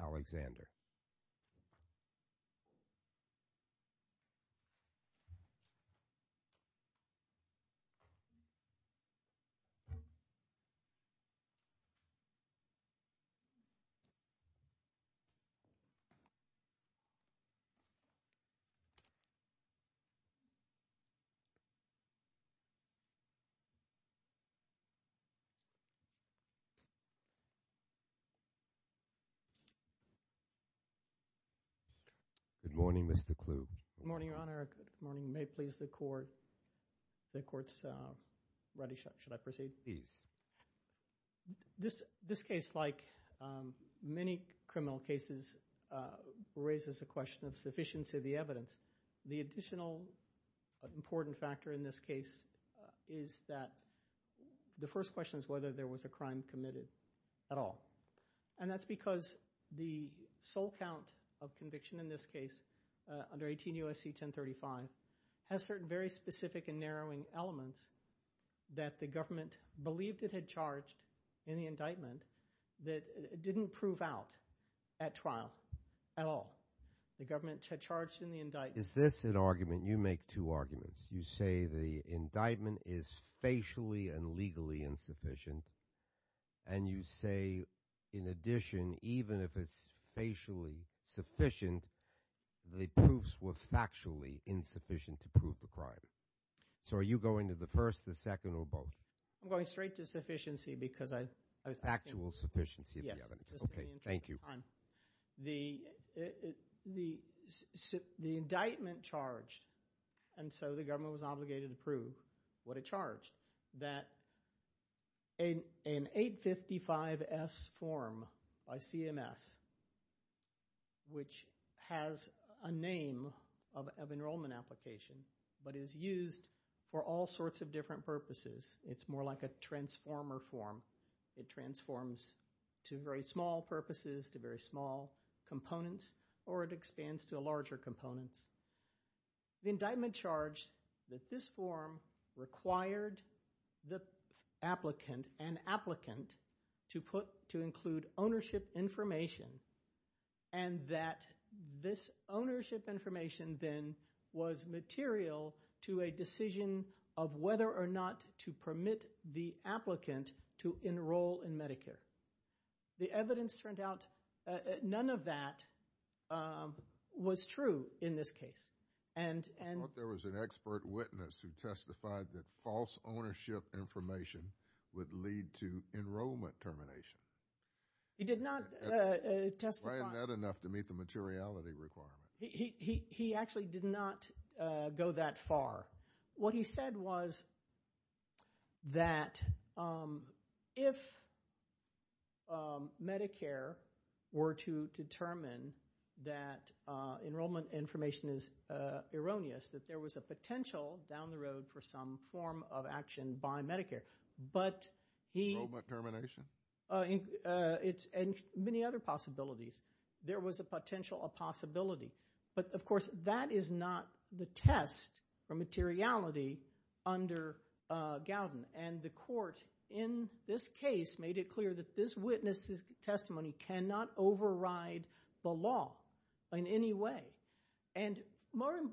Alexander Good morning, Mr. Kluge. Good morning, Your Honor. Good morning. May it please the Court. The Court's ready. Should I proceed? Please. This case, like many criminal cases, raises the question of sufficiency of the evidence. The additional important factor in this case is that the first question is whether there was a crime committed at all. And that's because the sole count of conviction in this case, under 18 U.S.C. 1035, has certain very specific and narrowing elements that the government believed it had charged in the indictment that it didn't prove out at trial at all. The government had charged in the indictment. Is this an argument? You make two arguments. You say the indictment is facially and legally insufficient and you say, in addition, even if it's facially sufficient, the proofs were factually insufficient to prove the crime. So are you going to the first, the second, or both? I'm going straight to sufficiency because I think... Factual sufficiency of the evidence. Yes. Okay. Thank you. The indictment charged and so the government was obligated to prove what it charged that an 855S form by CMS, which has a name of enrollment application but is used for all sorts of different purposes. It's more like a transformer form. It transforms to very small purposes, to very small components, or it expands to larger components. The indictment charged that this form required the applicant, an applicant, to include ownership information and that this ownership information then was material to a decision of whether or not to permit the applicant to enroll in Medicare. The evidence turned out, none of that was true in this case. I thought there was an expert witness who testified that false ownership information would lead to enrollment termination. He did not testify. Why isn't that enough to meet the materiality requirement? He actually did not go that far. What he said was that if Medicare were to determine that enrollment information is erroneous, that there was a potential down the road for some form of action by Medicare. Enrollment termination? Many other possibilities. There was a potential, a possibility. Of course, that is not the test for materiality under Gowden. The court in this case made it clear that this witness's testimony cannot override the law in any way.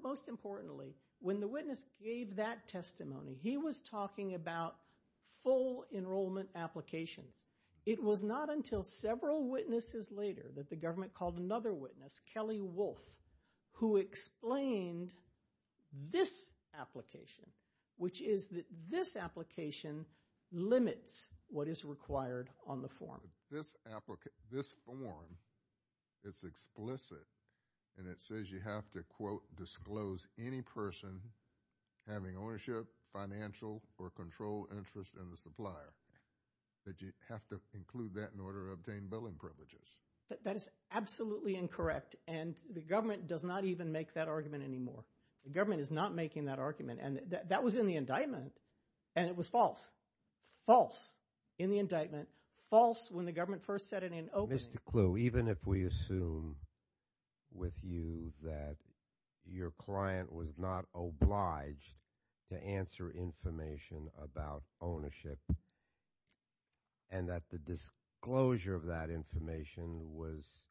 Most importantly, when the witness gave that testimony, he was talking about full enrollment applications. It was not until several witnesses later that the government called another witness, Kelly Wolf, who explained this application, which is that this application limits what is required on the form. This form, it's explicit and it says you have to, quote, disclose any person having ownership, financial, or controlled interest in the supplier. That you have to include that in order to obtain billing privileges. That is absolutely incorrect and the government does not even make that argument anymore. The government is not making that argument. That was in the indictment and it was false. False. In the indictment. False when the government first said it in opening. Mr. Kluh, even if we assume with you that your client was not obliged to answer information about ownership and that the disclosure of that information was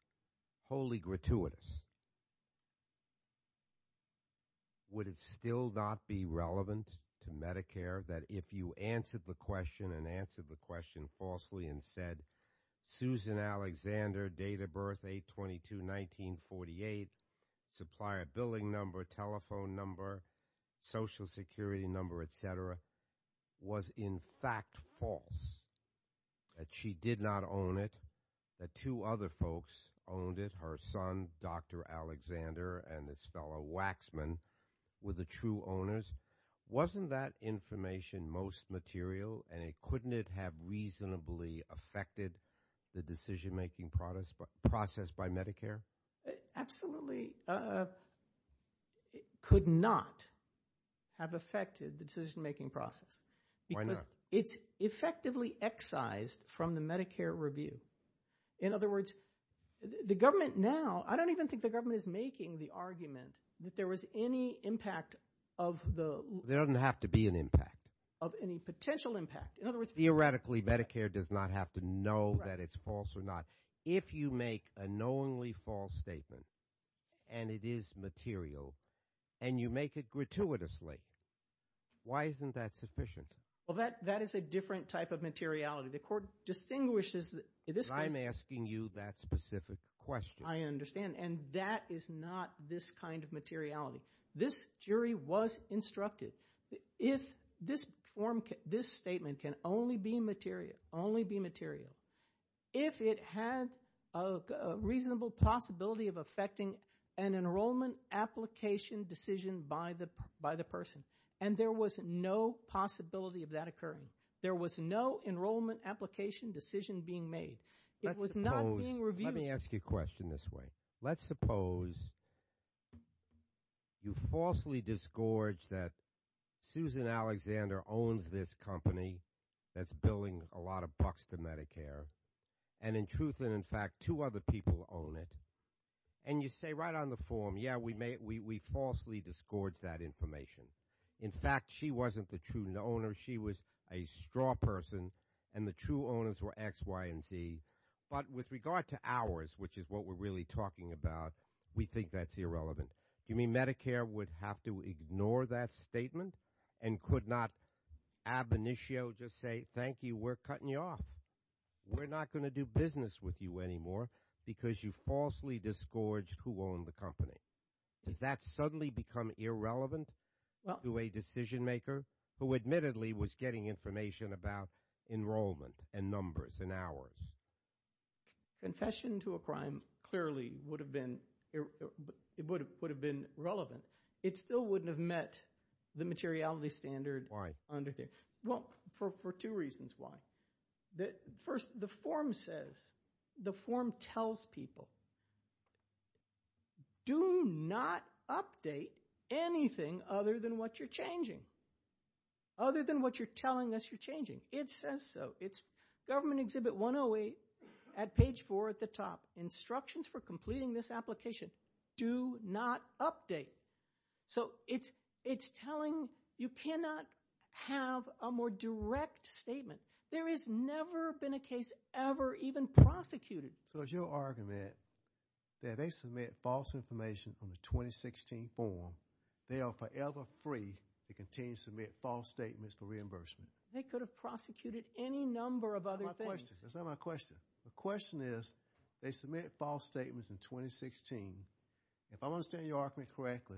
wholly gratuitous, would it still not be relevant to Medicare that if you answered the question and answered the question falsely and said Susan Alexander, date of birth, 8-22-1948, supplier billing number, telephone number, social security number, et cetera, was in fact false? That she did not own it, that two other folks owned it, her son, Dr. Alexander, and this fellow Waxman were the true owners? Wasn't that information most material and couldn't it have reasonably affected the decision-making process by Medicare? Absolutely. It could not have affected the decision-making process. Why not? Because it's effectively excised from the Medicare review. In other words, the government now, I don't even think the government is making the argument that there was any impact of the... There doesn't have to be an impact. Of any potential impact. In other words... Theoretically, Medicare does not have to know that it's false or not. If you make a knowingly false statement and it is material and you make it gratuitously, why isn't that sufficient? Well, that is a different type of materiality. The court distinguishes... I'm asking you that specific question. I understand. And that is not this kind of materiality. This jury was instructed if this form, this statement can only be material, if it had a reasonable possibility of affecting an enrollment application decision by the person, and there was no possibility of that occurring. There was no enrollment application decision being made. It was not being reviewed... Let me ask you a question this way. Let's suppose you falsely disgorge that Susan Alexander owns this company that's billing a lot of bucks to Medicare and in truth and in fact two other people own it. And you say right on the form, yeah, we falsely disgorge that information. In fact, she wasn't the true owner. She was a straw person and the true owners were X, Y, and Z. But with regard to hours, which is what we're really talking about, we think that's irrelevant. You mean Medicare would have to ignore that statement and could not ab initio just say, thank you, we're cutting you off. We're not going to do business with you anymore because you falsely disgorged who owned the company. Does that suddenly become irrelevant to a decision maker who admittedly was getting information about enrollment and numbers in hours? Confession to a crime clearly would have been relevant. It still wouldn't have met the materiality standard under there. Why? Well, for two reasons why. First, the form says the form tells people do not update anything other than what you're changing. Other than what you're telling us you're changing. It says so. It's Government Exhibit 108 at page four at the top. Instructions for completing this application. Do not update. So it's telling you cannot have a more direct statement. There has never been a case ever even prosecuted. So it's your argument that they submit false information on the 2016 form. They are forever free to continue to submit false statements for reimbursement. They could have prosecuted any number of other things. That's not my question. The question is, they submit false statements in 2016. If I'm understanding your argument correctly,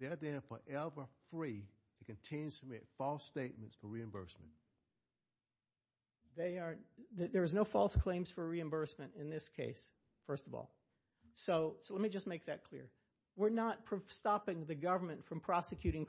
they are then forever free to continue to submit false statements for reimbursement. There is no false claims for reimbursement in this case, first of all. So let me just make that clear. We're not stopping the government from prosecuting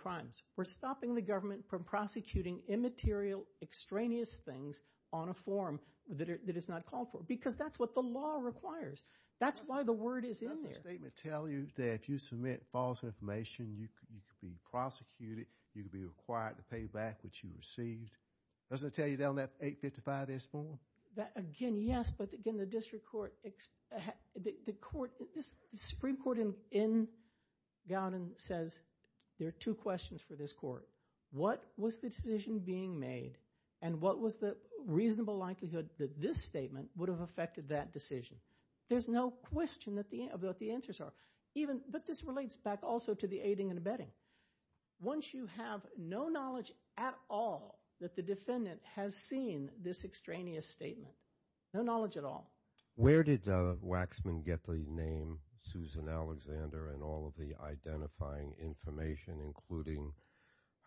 immaterial, extraneous things on a form that is not called for. Because that's what the law requires. That's why the word is in there. Doesn't the statement tell you that if you submit false information, you could be prosecuted? You could be required to pay back what you received? Doesn't it tell you that on that 855-S form? Again, yes. But again, the District Court, the Supreme Court in Gallatin says there are two questions for this Court. What was the decision being made and what was the reasonable likelihood that this statement would have affected that decision? There's no question about what the answers are. But this relates back also to the aiding and abetting. Once you have no knowledge at all that the defendant has seen this extraneous statement, no knowledge at all. Where did Waxman get the name Susan Alexander and all of the identifying information, including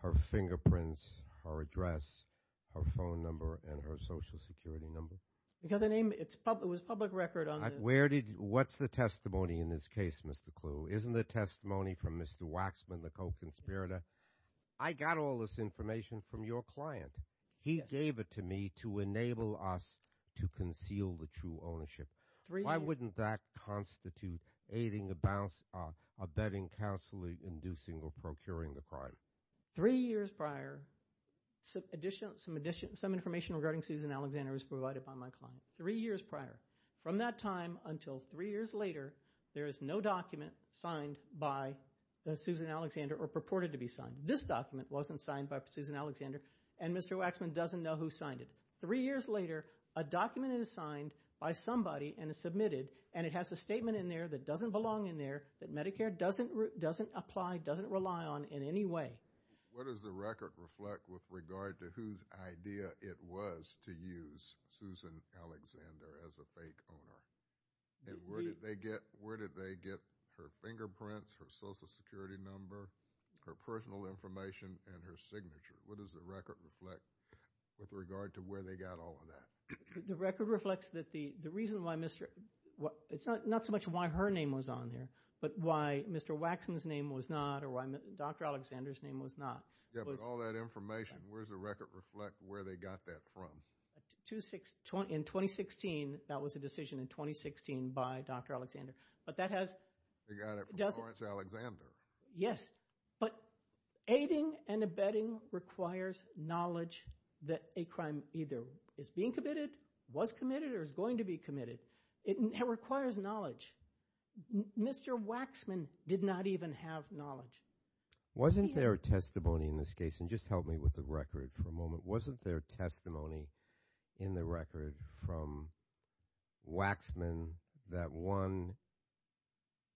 her fingerprints, her address, her phone number, and her Social Security number? It was public record. What's the testimony in this case, Mr. Kluh? Isn't the testimony from Mr. Waxman, the co-conspirator? I got all this information from your client. He gave it to me to enable us to conceal the true ownership. Why wouldn't that constitute aiding, abetting, counseling, inducing, or procuring the crime? Three years prior, some information regarding Susan Alexander was provided by my client. Three years prior. From that time until three years later, there is no document signed by Susan Alexander or purported to be signed. This document wasn't signed by Susan Alexander and Mr. Waxman doesn't know who signed it. Three years later, a document is signed by somebody and is submitted and it has a statement in there that doesn't belong in there, that Medicare doesn't apply, doesn't rely on in any way. What does the record reflect with regard to whose idea it was to use Susan Alexander as a fake owner? Where did they get her fingerprints, her Social Security number, her personal information, and her signature? What does the record reflect with regard to where they got all of that? The record reflects that the reason why Mr. Waxman's name was on there. It's not so much why her name was on there, but why Mr. Waxman's name was not or why Dr. Alexander's name was not. Yeah, but all that information, where does the record reflect where they got that from? In 2016, that was a decision in 2016 by Dr. Alexander, but that has... They got it from Lawrence Alexander. Yes, but aiding and abetting requires knowledge that a crime either is being committed, was committed, or is going to be committed. It requires knowledge. Mr. Waxman did not even have knowledge. Wasn't there a testimony in this case, and just help me with the record for a moment, wasn't there testimony in the record from Waxman that one,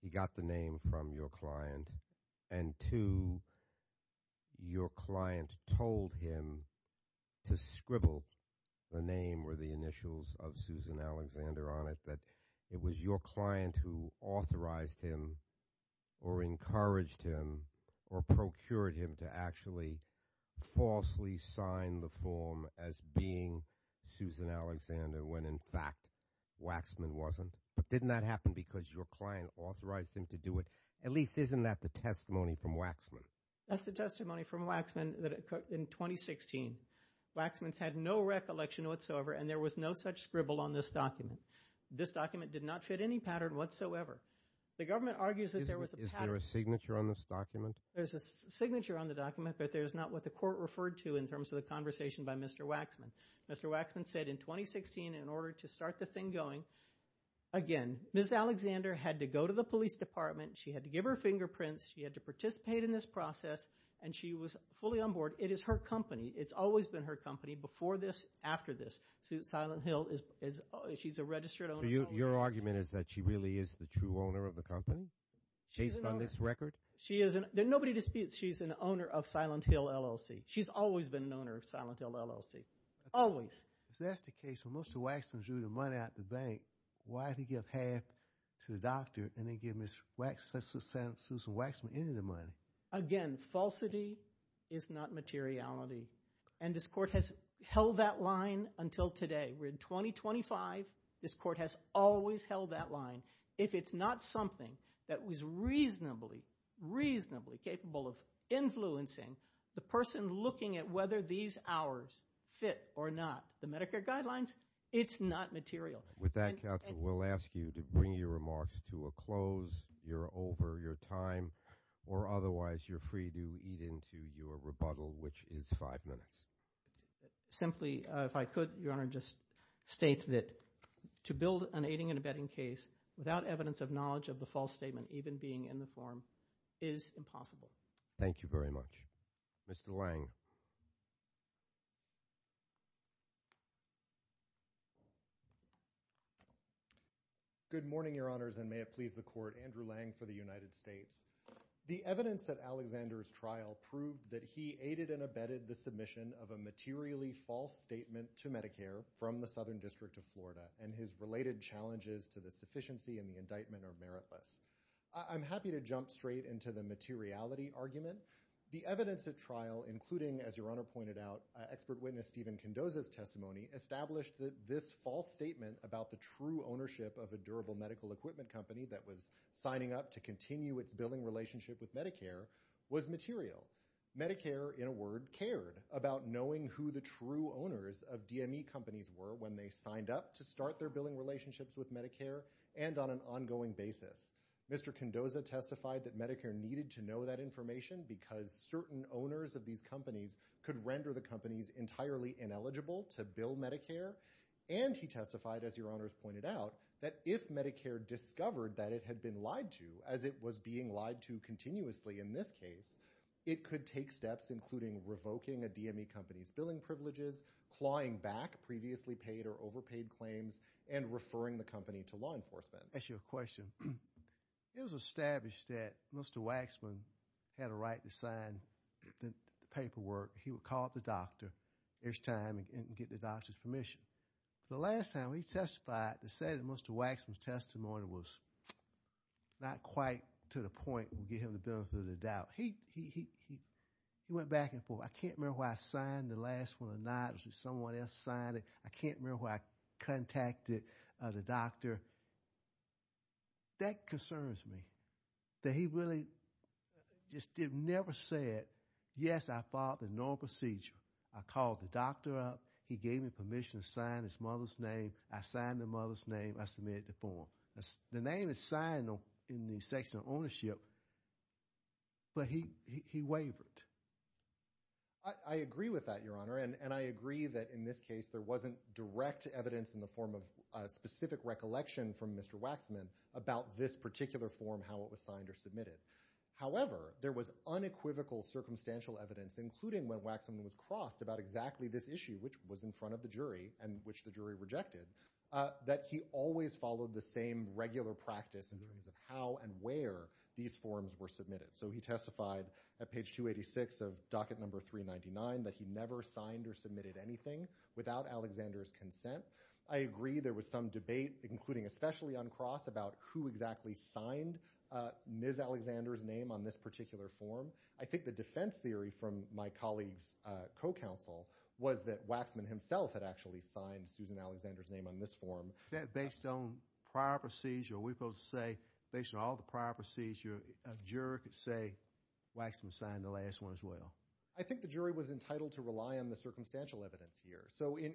he got the name from your client, and two, your client told him to scribble the name or the initials of Susan Alexander on it, that it was your client who authorized him or encouraged him or procured him to actually falsely sign the form as being Susan Alexander when in fact Waxman wasn't? But didn't that happen because your client authorized him to do it? At least isn't that the testimony from Waxman? That's the testimony from Waxman that occurred in 2016. Waxman's had no recollection whatsoever and there was no such scribble on this document. This document did not fit any pattern whatsoever. The government argues that there was a pattern. Is there a signature on this document? There's a signature on the document, but there's not what the court referred to in terms of the conversation by Mr. Waxman. Mr. Waxman said in 2016 in order to start the thing going, again, Ms. Alexander had to go to the police department, she had to give her fingerprints, she had to participate in this process, and she was fully on board. It is her company. It's always been her company before this, after this. Susan Silent Hill, she's a registered owner. So your argument is that she really is the true owner of the company based on this record? Nobody disputes she's an owner of Silent Hill LLC. She's always been an owner of Silent Hill LLC. Always. If that's the case, when Mr. Waxman drew the money out of the bank, why did he give half to the doctor and then give Susan Waxman any of the money? Again, falsity is not materiality. And this court has held that line until today. We're in 2025. This court has always held that line. If it's not something that was reasonably, reasonably capable of influencing the person looking at whether these hours fit or not, the Medicare guidelines, it's not material. With that, counsel, we'll ask you to bring your remarks to a close. You're over your time, or otherwise you're free to eat into your rebuttal, which is five minutes. Simply, if I could, Your Honor, just state that to build an aiding and abetting case without evidence of knowledge of the false statement, even being in the form, is impossible. Thank you very much. Mr. Lange. Thank you. Good morning, Your Honors, and may it please the Court. Andrew Lange for the United States. The evidence at Alexander's trial proved that he aided and abetted the submission of a materially false statement to Medicare from the Southern District of Florida, and his related challenges to the sufficiency and the indictment are meritless. I'm happy to jump straight into the materiality argument. The evidence at trial, including, as Your Honor pointed out, expert witness Stephen Kendoza's testimony, established that this false statement about the true ownership of a durable medical equipment company that was signing up to continue its billing relationship with Medicare was material. Medicare, in a word, cared about knowing who the true owners of DME companies were when they signed up to start their billing relationships with Medicare and on an ongoing basis. Mr. Kendoza testified that Medicare needed to know that information because certain owners of these companies could render the companies entirely ineligible to bill Medicare, and he testified, as Your Honors pointed out, that if Medicare discovered that it had been lied to, as it was being lied to continuously in this case, it could take steps including revoking a DME company's billing privileges, clawing back previously paid or overpaid claims, and referring the company to law enforcement. I'll ask you a question. It was established that Mr. Waxman had a right to sign the paperwork. He would call up the doctor each time and get the doctor's permission. The last time he testified he said that Mr. Waxman's testimony was not quite to the point to get him the benefit of the doubt. He went back and forth. I can't remember whether I signed the last one or not. Someone else signed it. I can't remember whether I contacted the doctor. That concerns me, that he really just never said, yes, I followed the normal procedure. I called the doctor up. He gave me permission to sign his mother's name. I signed the mother's name. I submitted the form. The name is signed in the section of ownership, but he wavered. I agree with that, Your Honor, and I agree that in this case there wasn't direct evidence in the form of specific recollection from Mr. Waxman about this particular form, how it was signed or submitted. However, there was unequivocal circumstantial evidence, including when Waxman was crossed about exactly this issue, which was in front of the jury and which the jury rejected, that he always followed the same regular practice in terms of how and where these forms were submitted. He testified at page 286 of docket number 399 that he never signed or submitted anything without Alexander's consent. I agree there was some debate, including especially on Cross, about who exactly signed Ms. Alexander's name on this particular form. I think the defense theory from my colleague's co-counsel was that Waxman himself had actually signed Susan Alexander's name on this form. Is that based on prior procedure? Are we supposed to say, based on all the prior procedure, a juror could say Waxman signed the last one as well? I think the jury was entitled to rely on the circumstantial evidence here.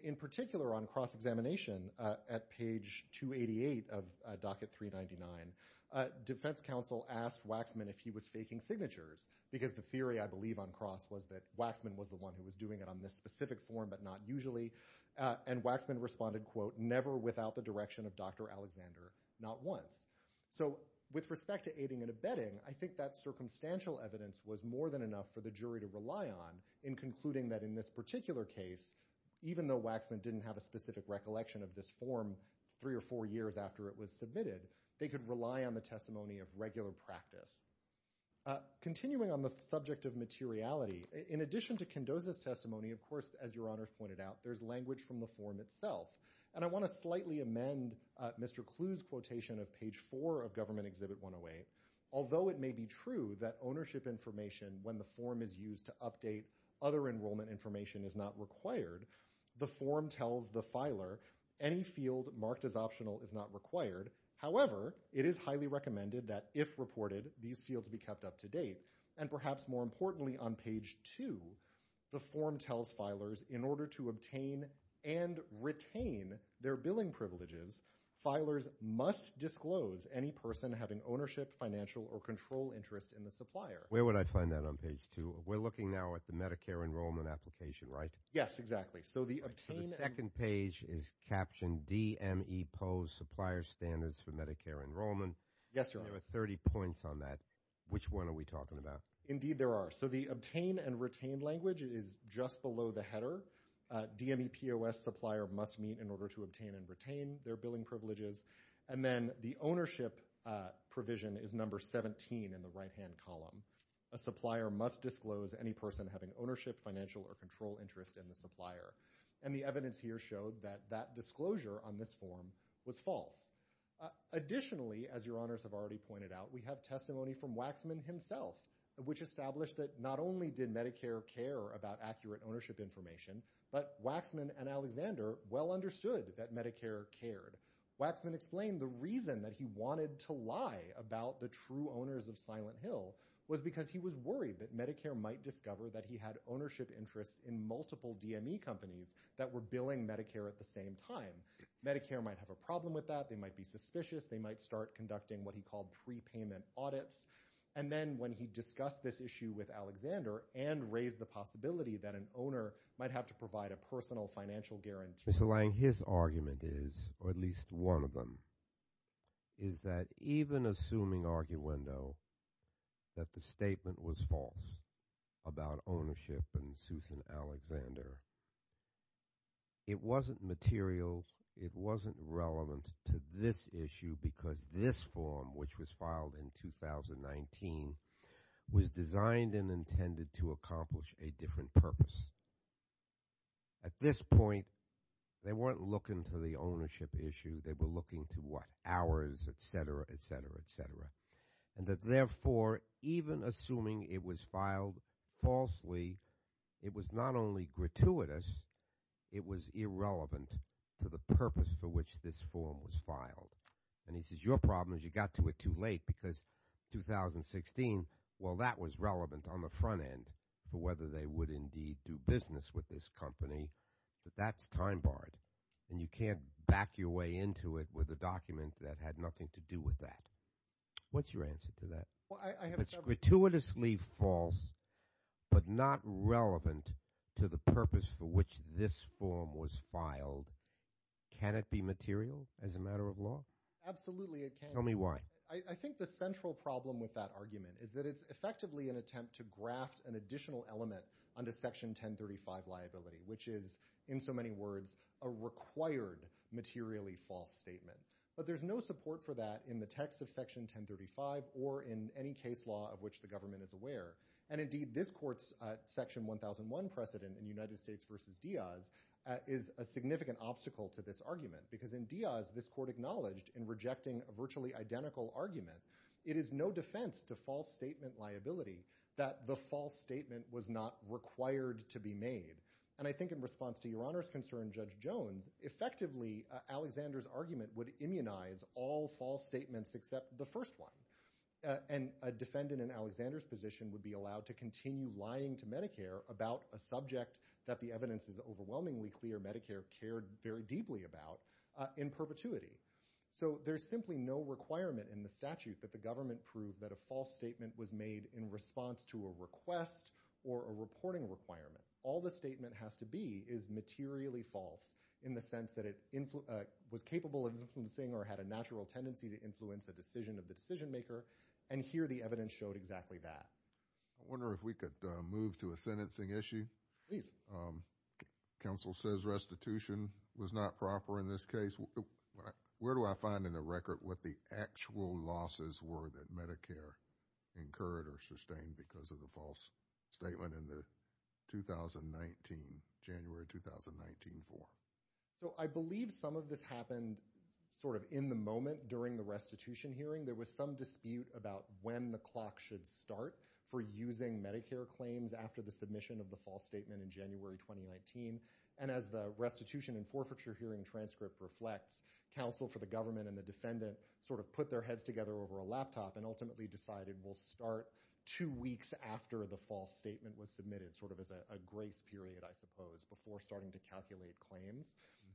In particular, on Cross examination, at page 288 of docket 399, defense counsel asked Waxman if he was faking signatures because the theory, I believe, on Cross was that Waxman was the one who was doing it on this specific form but not usually. Waxman responded, quote, never without the direction of Dr. Alexander, not once. With respect to aiding and abetting, I think that circumstantial evidence was more than enough for the jury to rely on in concluding that in this particular case, even though Waxman didn't have a specific recollection of this form three or four years after it was submitted, they could rely on the testimony of regular practice. Continuing on the subject of materiality, in addition to Kendoza's testimony, of course, as your honors pointed out, there's language from the form itself. I want to slightly amend Mr. Clue's quotation of page 4 of Government Exhibit 108. Although it may be true that ownership information when the form is used to update other enrollment information is not required, the form tells the filer any field marked as optional is not required. However, it is highly recommended that if reported, these fields be kept up to date. And perhaps more importantly on page 2, the form tells filers in order to obtain and retain their billing privileges, filers must disclose any person having ownership, financial, or control interest in the supplier. Where would I find that on page 2? We're looking now at the Medicare enrollment application, right? Yes, exactly. The second page is captioned DMEPOS Supplier Standards for Medicare Enrollment. There are 30 points on that. Which one are we talking about? Indeed there are. So the obtain and retain language is just below the header. DMEPOS supplier must meet in order to obtain and retain their billing privileges. And then the ownership provision is number 17 in the right-hand column. A supplier must disclose any person having ownership, financial, or control interest in the supplier. And the evidence here showed that that disclosure on this form was false. Additionally, as your honors have already pointed out, we have testimony from Waxman himself, which established that not only did Medicare care about accurate ownership information, but Waxman and Alexander well understood that Medicare cared. Waxman explained the reason that he wanted to lie about the true owners of Silent Hill was because he was worried that Medicare might discover that he had ownership interests in multiple DME companies that were billing Medicare at the same time. Medicare might have a problem with that. They might be suspicious. They might start conducting what he called prepayment audits. And then when he discussed this issue with Alexander and raised the possibility that an owner might have to provide a personal financial guarantee. Mr. Lang, his argument is, or at least one of them, is that even assuming arguendo that the statement was false about ownership and Susan Alexander, it wasn't material, it wasn't relevant to this issue because this form, which was filed in 2019, was designed and intended to accomplish a different purpose. At this point, they weren't looking to the ownership issue. They were looking to what? Hours, et cetera, et cetera, et cetera. And that therefore, even assuming it was filed falsely, it was not only gratuitous, it was irrelevant to the purpose for which this form was filed. And he says, your problem is you got to it too late because 2016, well, that was relevant on the front end for whether they would indeed do business with this company, but that's time barred. And you can't back your way into it with a document that had nothing to do with that. What's your answer to that? If it's gratuitously false but not relevant to the purpose for which this form was filed, can it be material as a matter of law? Tell me why. I think the central problem with that argument is that it's effectively an attempt to graft an additional element onto Section 1035 liability, which is, in so many words, a required materially false statement. But there's no support for that in the text of Section 1035 or in any case law of which the government is aware. And indeed, this court's Section 1001 precedent in United States v. Diaz is a significant obstacle to this argument because in Diaz, this court acknowledged in rejecting a virtually identical argument, it is no defense to false statement liability that the false statement was not required to be made. And I think in response to Your Honor's concern, Judge Jones, effectively Alexander's argument would immunize all false statements except the first one. And a defendant in Alexander's position would be allowed to continue lying to Medicare about a subject that the evidence is overwhelmingly clear Medicare cared very deeply about in perpetuity. So there's simply no requirement in the statute that the government prove that a false statement was made in response to a request or a reporting requirement. All the statement has to be is materially false in the sense that it was capable of influencing or had a natural tendency to influence a decision of the decision maker. And here the evidence showed exactly that. I wonder if we could move to a sentencing issue. Please. Counsel says restitution was not proper in this case. Where do I find in the record what the actual losses were that Medicare incurred or sustained because of the false statement in the 2019, January 2019 form? So I believe some of this happened sort of in the moment during the restitution hearing. There was some dispute about when the clock should start for using Medicare claims after the submission of the false statement in January 2019. And as the restitution and forfeiture hearing transcript reflects, counsel for the government and the defendant sort of put their heads together over a laptop and ultimately decided we'll start two weeks after the false statement was submitted sort of as a grace period I suppose before starting to calculate claims.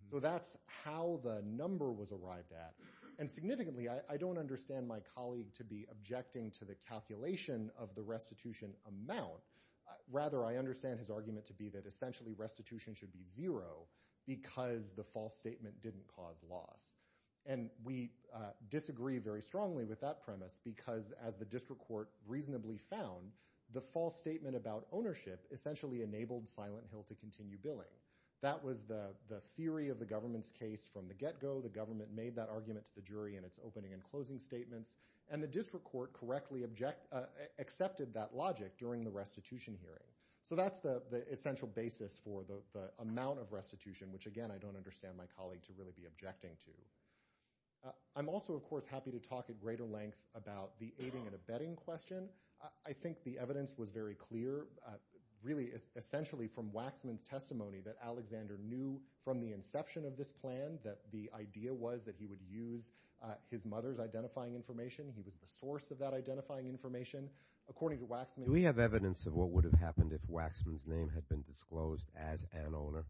So that's how the number was arrived at. And significantly I don't understand my colleague to be objecting to the calculation of the restitution amount. Rather I understand his argument to be that essentially restitution should be zero because the false statement didn't cause loss. And we disagree very strongly with that premise because as the district court reasonably found, the false statement about ownership essentially enabled Silent Hill to continue billing. That was the theory of the government's case from the get-go. The government made that argument to the jury in its opening and closing statements. And the district court correctly accepted that logic during the restitution hearing. So that's the essential basis for the amount of restitution, which again I don't understand my colleague to really be objecting to. I'm also of course happy to talk at greater length about the aiding and abetting question. I think the evidence was very clear, really essentially from Waxman's testimony that Alexander knew from the inception of this plan that the idea was that he would use his mother's identifying information. He was the source of that identifying information. According to Waxman... Was there any evidence of what would have happened if Waxman's name had been disclosed as an owner?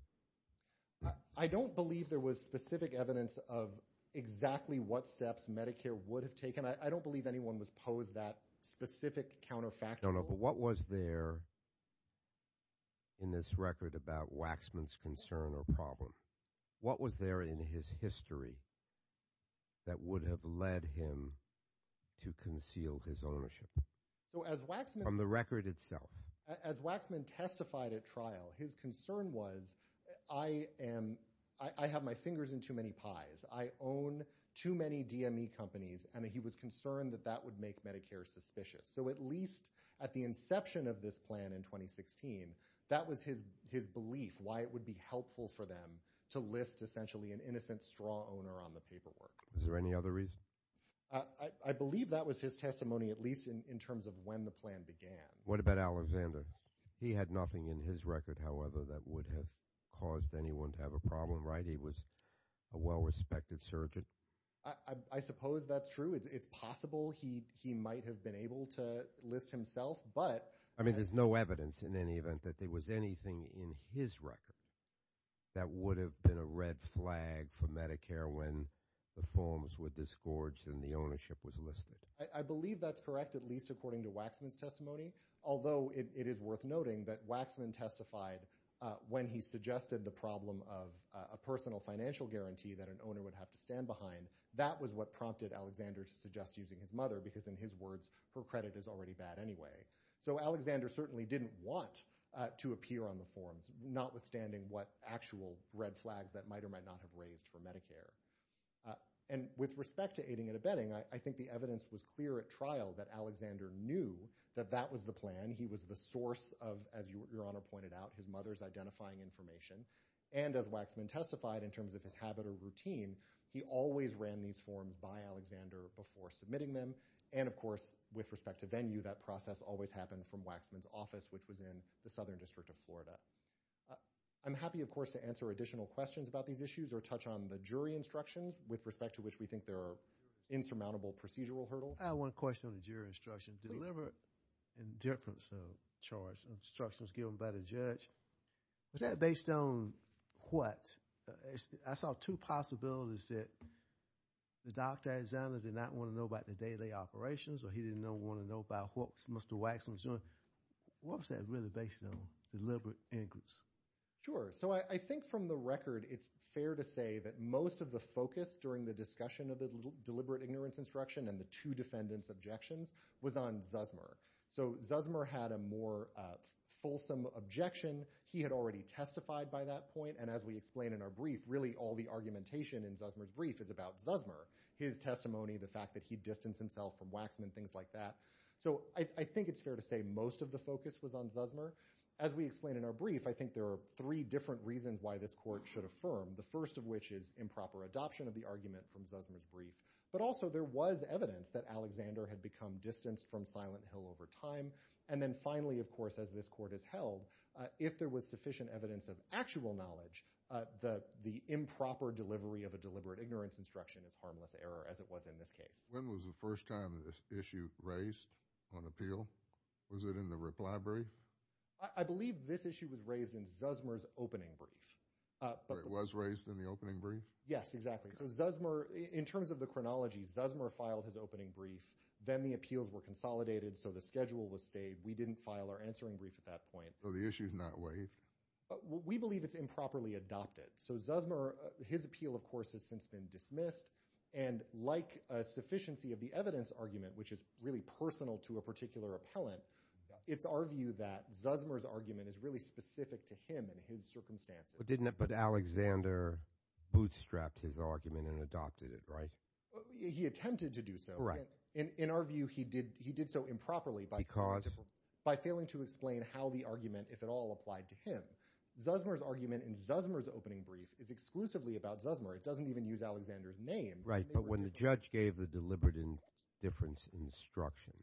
I don't believe there was specific evidence of exactly what steps Medicare would have taken. I don't believe anyone was posed that specific counterfactual... No, no, but what was there in this record about Waxman's concern or problem? What was there in his history that would have led him to conceal his ownership? As Waxman testified at trial, his concern was, I have my fingers in too many pies. I own too many DME companies and he was concerned that that would make Medicare suspicious. So at least at the inception of this plan in 2016, that was his belief, why it would be helpful for them to list essentially an innocent straw owner on the paperwork. Is there any other reason? I believe that was his testimony, at least in terms of when the plan began. What about Alexander? He had nothing in his record, however, that would have caused anyone to have a problem, right? He was a well-respected surgeon. I suppose that's true. It's possible he might have been able to list himself, but... I mean, there's no evidence in any event that there was anything in his record that would have been a red flag for Medicare when the forms were disgorged and the ownership was listed. I believe that's correct, at least according to Waxman's testimony, although it is worth noting that Waxman testified when he suggested the problem of a personal financial guarantee that an owner would have to stand behind. That was what prompted Alexander to suggest using his mother, because in his words, her credit is already bad anyway. So Alexander certainly didn't want to appear on the forms, notwithstanding what actual red flags that might or might not have raised for Medicare. And with respect to aiding and abetting, I think the evidence was clear at trial that Alexander knew that that was the plan. He was the source of, as Your Honor pointed out, his mother's identifying information. And as Waxman testified, in terms of his habit or routine, he always ran these forms by Alexander before submitting them. And of course, with respect to venue, that process always happened from Waxman's office, which was in the Southern District of Florida. I'm happy, of course, to answer additional questions about these issues or touch on the jury instructions, with respect to which we think there are insurmountable procedural hurdles. I have one question on the jury instructions. Deliberate indifference charge instructions given by the judge, was that based on what? I saw two possibilities that Dr. Alexander did not want to know about the day-to-day operations, or he didn't want to know about what Mr. Waxman was doing. What was that really based on? Deliberate ignorance? Sure. So I think from the record, it's fair to say that most of the focus during the discussion of the deliberate ignorance instruction and the two defendants' objections was on Zuzmur. So Zuzmur had a more fulsome objection. He had already testified by that point. And as we explain in our brief, really all the argumentation in Zuzmur's brief is about Zuzmur. His testimony, the fact that he distanced himself from Waxman, things like that. So I think it's fair to say most of the focus was on Zuzmur. As we explain in our brief, I think there are three different reasons why this court should affirm. The first of which is improper adoption of the argument from Zuzmur's brief. But also there was evidence that Alexander had become distanced from Silent Hill over time. And then finally, of course, as this court has held, if there was sufficient evidence of actual knowledge, the improper delivery of a deliberate ignorance instruction is harmless error, as it was in this case. When was the first time this issue raised on appeal? Was it in the reply brief? I believe this issue was raised in Zuzmur's opening brief. It was raised in the opening brief? Yes, exactly. So Zuzmur, in terms of the chronology, Zuzmur filed his opening brief. Then the appeals were consolidated, so the schedule was saved. We didn't file our answering brief at that point. So the issue's not waived? We believe it's improperly adopted. So Zuzmur, his appeal, of course, has since been dismissed. And like a sufficiency of the evidence argument, which is really personal to a particular appellant, it's our view that Zuzmur's argument is really specific to him and his circumstances. But Alexander bootstrapped his argument and adopted it, right? He attempted to do so. In our view, he did so improperly by failing to explain how the argument, if at all, applied to him. Zuzmur's argument in Zuzmur's opening brief is exclusively about Zuzmur. It doesn't even use Alexander's name. Right, but when the judge gave the deliberate indifference instruction,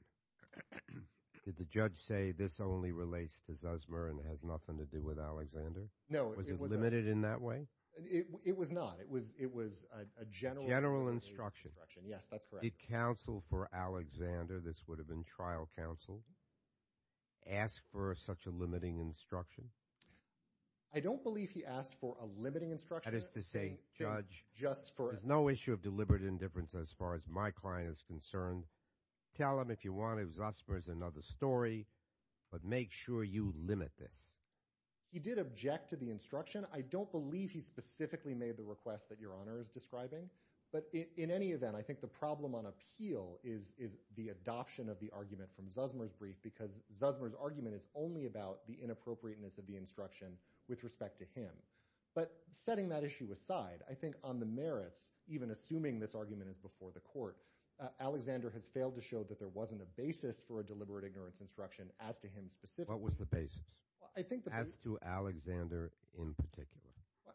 did the judge say this only relates to Zuzmur and has nothing to do with Alexander? No. Was it limited in that way? It was not. It was a general instruction. General instruction. Yes, that's correct. Did counsel for Alexander, this would have been trial counsel, ask for such a limiting instruction? I don't believe he asked for a limiting instruction. That is to say, judge, there's no issue of deliberate indifference as far as my client is concerned. Tell him if you want, if Zuzmur is another story, but make sure you limit this. He did object to the instruction. I don't believe he specifically made the request that Your Honor is describing, but in any event, I think the problem on appeal is the adoption of the argument from Zuzmur's brief because Zuzmur's argument is only about the inappropriateness of the instruction with respect to him. But setting that issue aside, I think on the merits, even assuming this argument is before the court, Alexander has failed to show that there wasn't a basis for a deliberate ignorance instruction as to him specifically. What was the basis? As to Alexander in particular?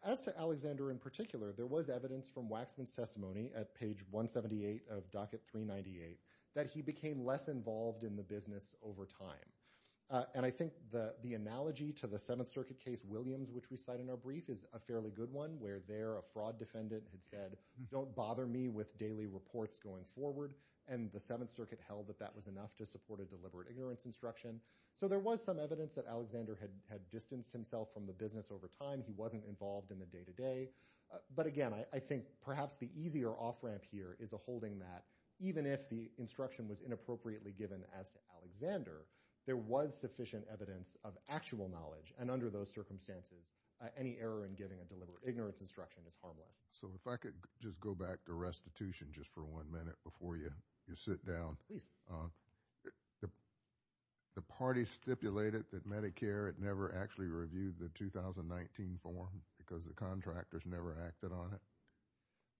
As to Alexander in particular, there was evidence from Waxman's testimony at page 178 of docket 398 that he became less involved in the business over time. And I think the analogy to the Seventh Circuit case Williams, which we cite in our brief, is a fairly good one where there a fraud defendant had said, don't bother me with daily reports going forward. And the Seventh Circuit held that that was enough to support a deliberate ignorance instruction. So there was some evidence that Alexander had distanced himself from the business over time. He wasn't involved in the day-to-day. But again, I think perhaps the easier off-ramp here is a holding that even if the instruction was inappropriately given as to Alexander, there was sufficient evidence of actual knowledge. And under those circumstances, any error in giving a deliberate ignorance instruction is harmless. So if I could just go back to restitution just for one minute before you sit down. The parties stipulated that Medicare had never actually reviewed the 2019 form because the contractors never acted on it.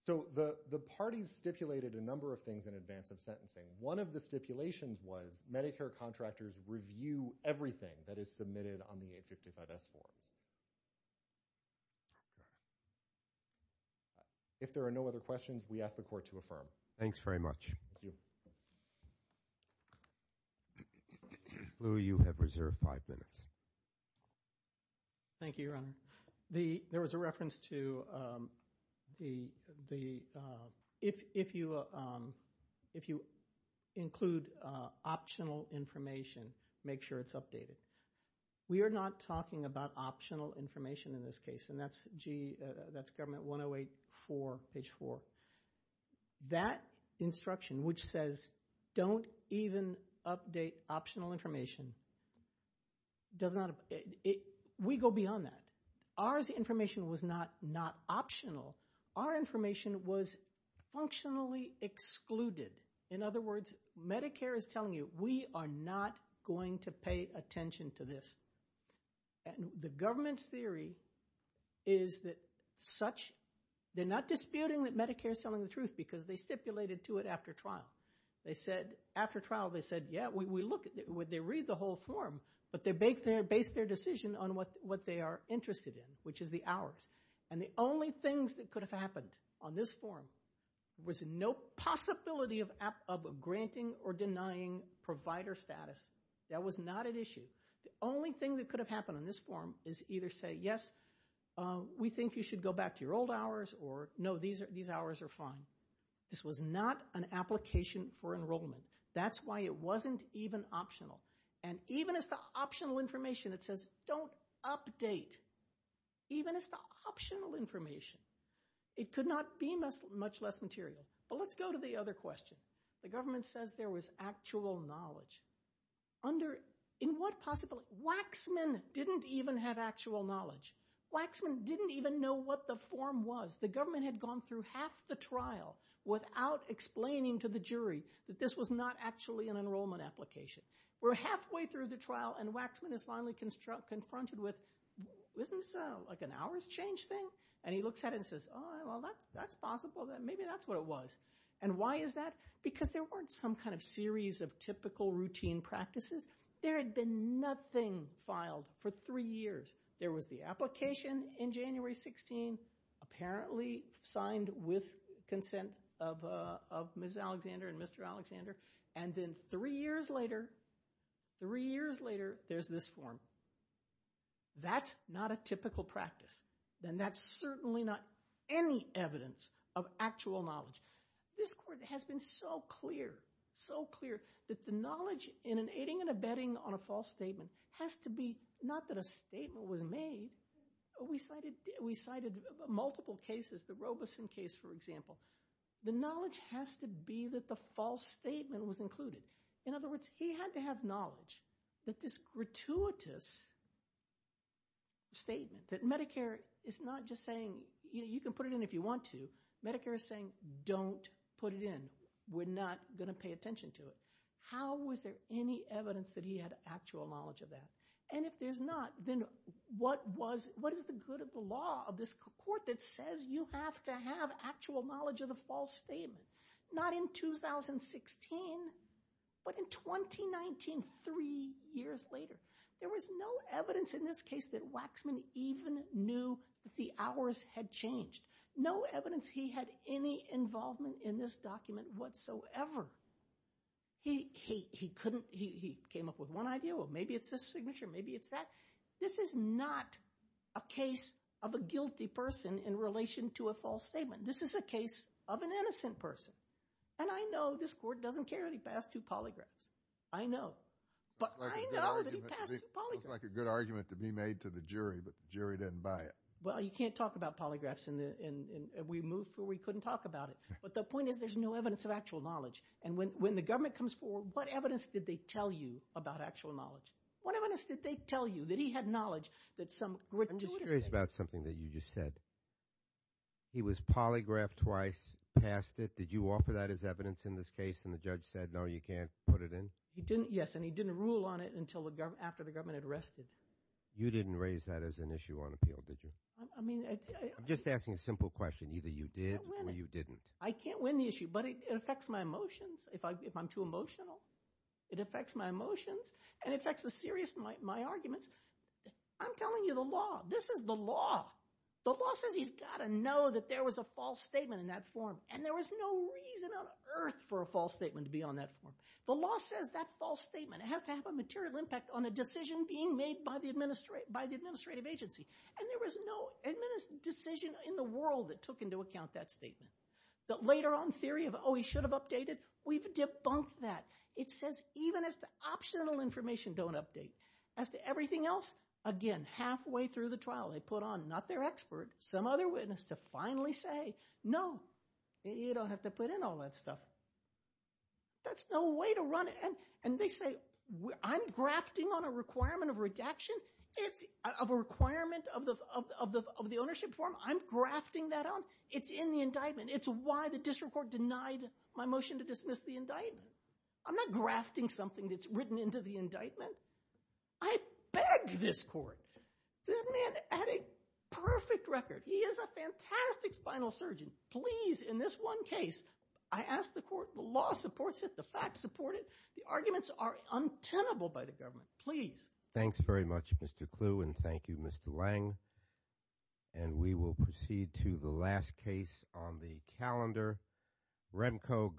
So the parties stipulated a number of things in advance of sentencing. One of the stipulations was Medicare contractors review everything that is submitted on the 855S forms. If there are no other questions, we ask the Court to affirm. Thanks very much. Louie, you have reserved five minutes. Thank you, Your Honor. There was a reference to if you include optional information, make sure it's updated. We are not talking about optional information in this case, and that's Government 108-4, page 4. That instruction, which says don't even update optional information, we go beyond that. Ours information was not optional. Our information was functionally excluded. In other words, Medicare is telling you we are not going to pay attention to this. The Government's theory is that such they're not disputing that Medicare is telling the truth because they stipulated to it after trial. After trial, they said, yeah, we look at it. They read the whole form, but they base their decision on what they are interested in, which is the hours. And the only things that could have happened on this form was no possibility of granting or denying provider status. That was not an issue. The only thing that could have happened on this form is either say, yes, we think you should go back to your old hours, or no, these hours are fine. This was not an application for enrollment. That's why it wasn't even optional. And even as the optional information that says don't update, even as the optional information, it could not be much less material. But let's go to the other question. The Government says there was actual knowledge. In what possibility? Waxman didn't even have actual knowledge. Waxman didn't even know what the form was. The Government had gone through half the trial without explaining to the jury that this was not actually an enrollment application. We're halfway through the trial, and Waxman is finally confronted with, isn't this like an hours change thing? And he looks at it and says, oh, well, that's possible. Maybe that's what it was. And why is that? Because there weren't some kind of series of typical routine practices. There had been nothing filed for three years. There was the application in January 16, apparently signed with consent of Ms. Alexander and Mr. Alexander. And then three years later, three years later, there's this form. That's not a typical practice. And that's certainly not any evidence of actual knowledge. This Court has been so clear, so clear, that the knowledge in aiding and abetting on a false statement has to be, not that a statement was made. We cited multiple cases, the Robeson case, for example. The knowledge has to be that the false statement was included. In other words, he had to have knowledge that this gratuitous statement that Medicare is not just saying, you can put it in if you want to. Medicare is saying, don't put it in. We're not going to pay attention to it. How was there any evidence that he had actual knowledge of that? And if there's not, then what is the good of the law of this Court that says you have to have actual knowledge of the false statement? Not in 2016, but in 2019, three years later. There was no evidence in this case that Waxman even knew that the hours had changed. No evidence he had any involvement in this document whatsoever. He came up with one idea, well maybe it's this signature, maybe it's that. This is not a case of a guilty person in relation to a false statement. This is a case of an innocent person. And I know this Court doesn't care that he passed two polygraphs. I know. But I know that he passed two polygraphs. It sounds like a good argument to be made to the jury, but the jury didn't buy it. Well, you can't talk about polygraphs and we moved where we couldn't talk about it. But the point is there's no evidence of actual knowledge. And when the government comes forward, what evidence did they tell you about actual knowledge? What evidence did they tell you that he had knowledge that some gratuitous statement. I'm just curious about something that you just said. He was polygraphed twice, passed it. Did you offer that as evidence in this case and the judge said no, you can't put it in? Yes, and he didn't rule on it until after the government had arrested. You didn't raise that as an issue on appeal, did you? I'm just asking a simple question. Either you did or you didn't. I can't win the issue, but it affects my emotions if I'm too emotional. It affects my emotions and it affects the seriousness of my arguments. I'm telling you the law. This is the law. The law says he's got to know that there was a false statement in that form. And there was no reason on earth for a false statement to be on that form. The law says that false statement has to have a material impact on a decision being made by the administrative agency. And there was no decision in the world that took into account that statement. The later on theory of oh, he should have updated, we've debunked that. It says even as to optional information, don't update. As to everything else, again, halfway through the trial they put on, not their expert, some other witness to finally say no, you don't have to put in all that stuff. That's no way to run it. And they say I'm grafting on a requirement of redaction. It's a requirement of the ownership form. I'm grafting that on. It's in the indictment. It's why the district court denied my motion to dismiss the indictment. I'm not grafting something that's written into the indictment. I beg this court. This man had a perfect record. He is a fantastic spinal surgeon. Please, in this one case, I ask the court, the law supports it. The facts support it. The arguments are untenable by the government. Please.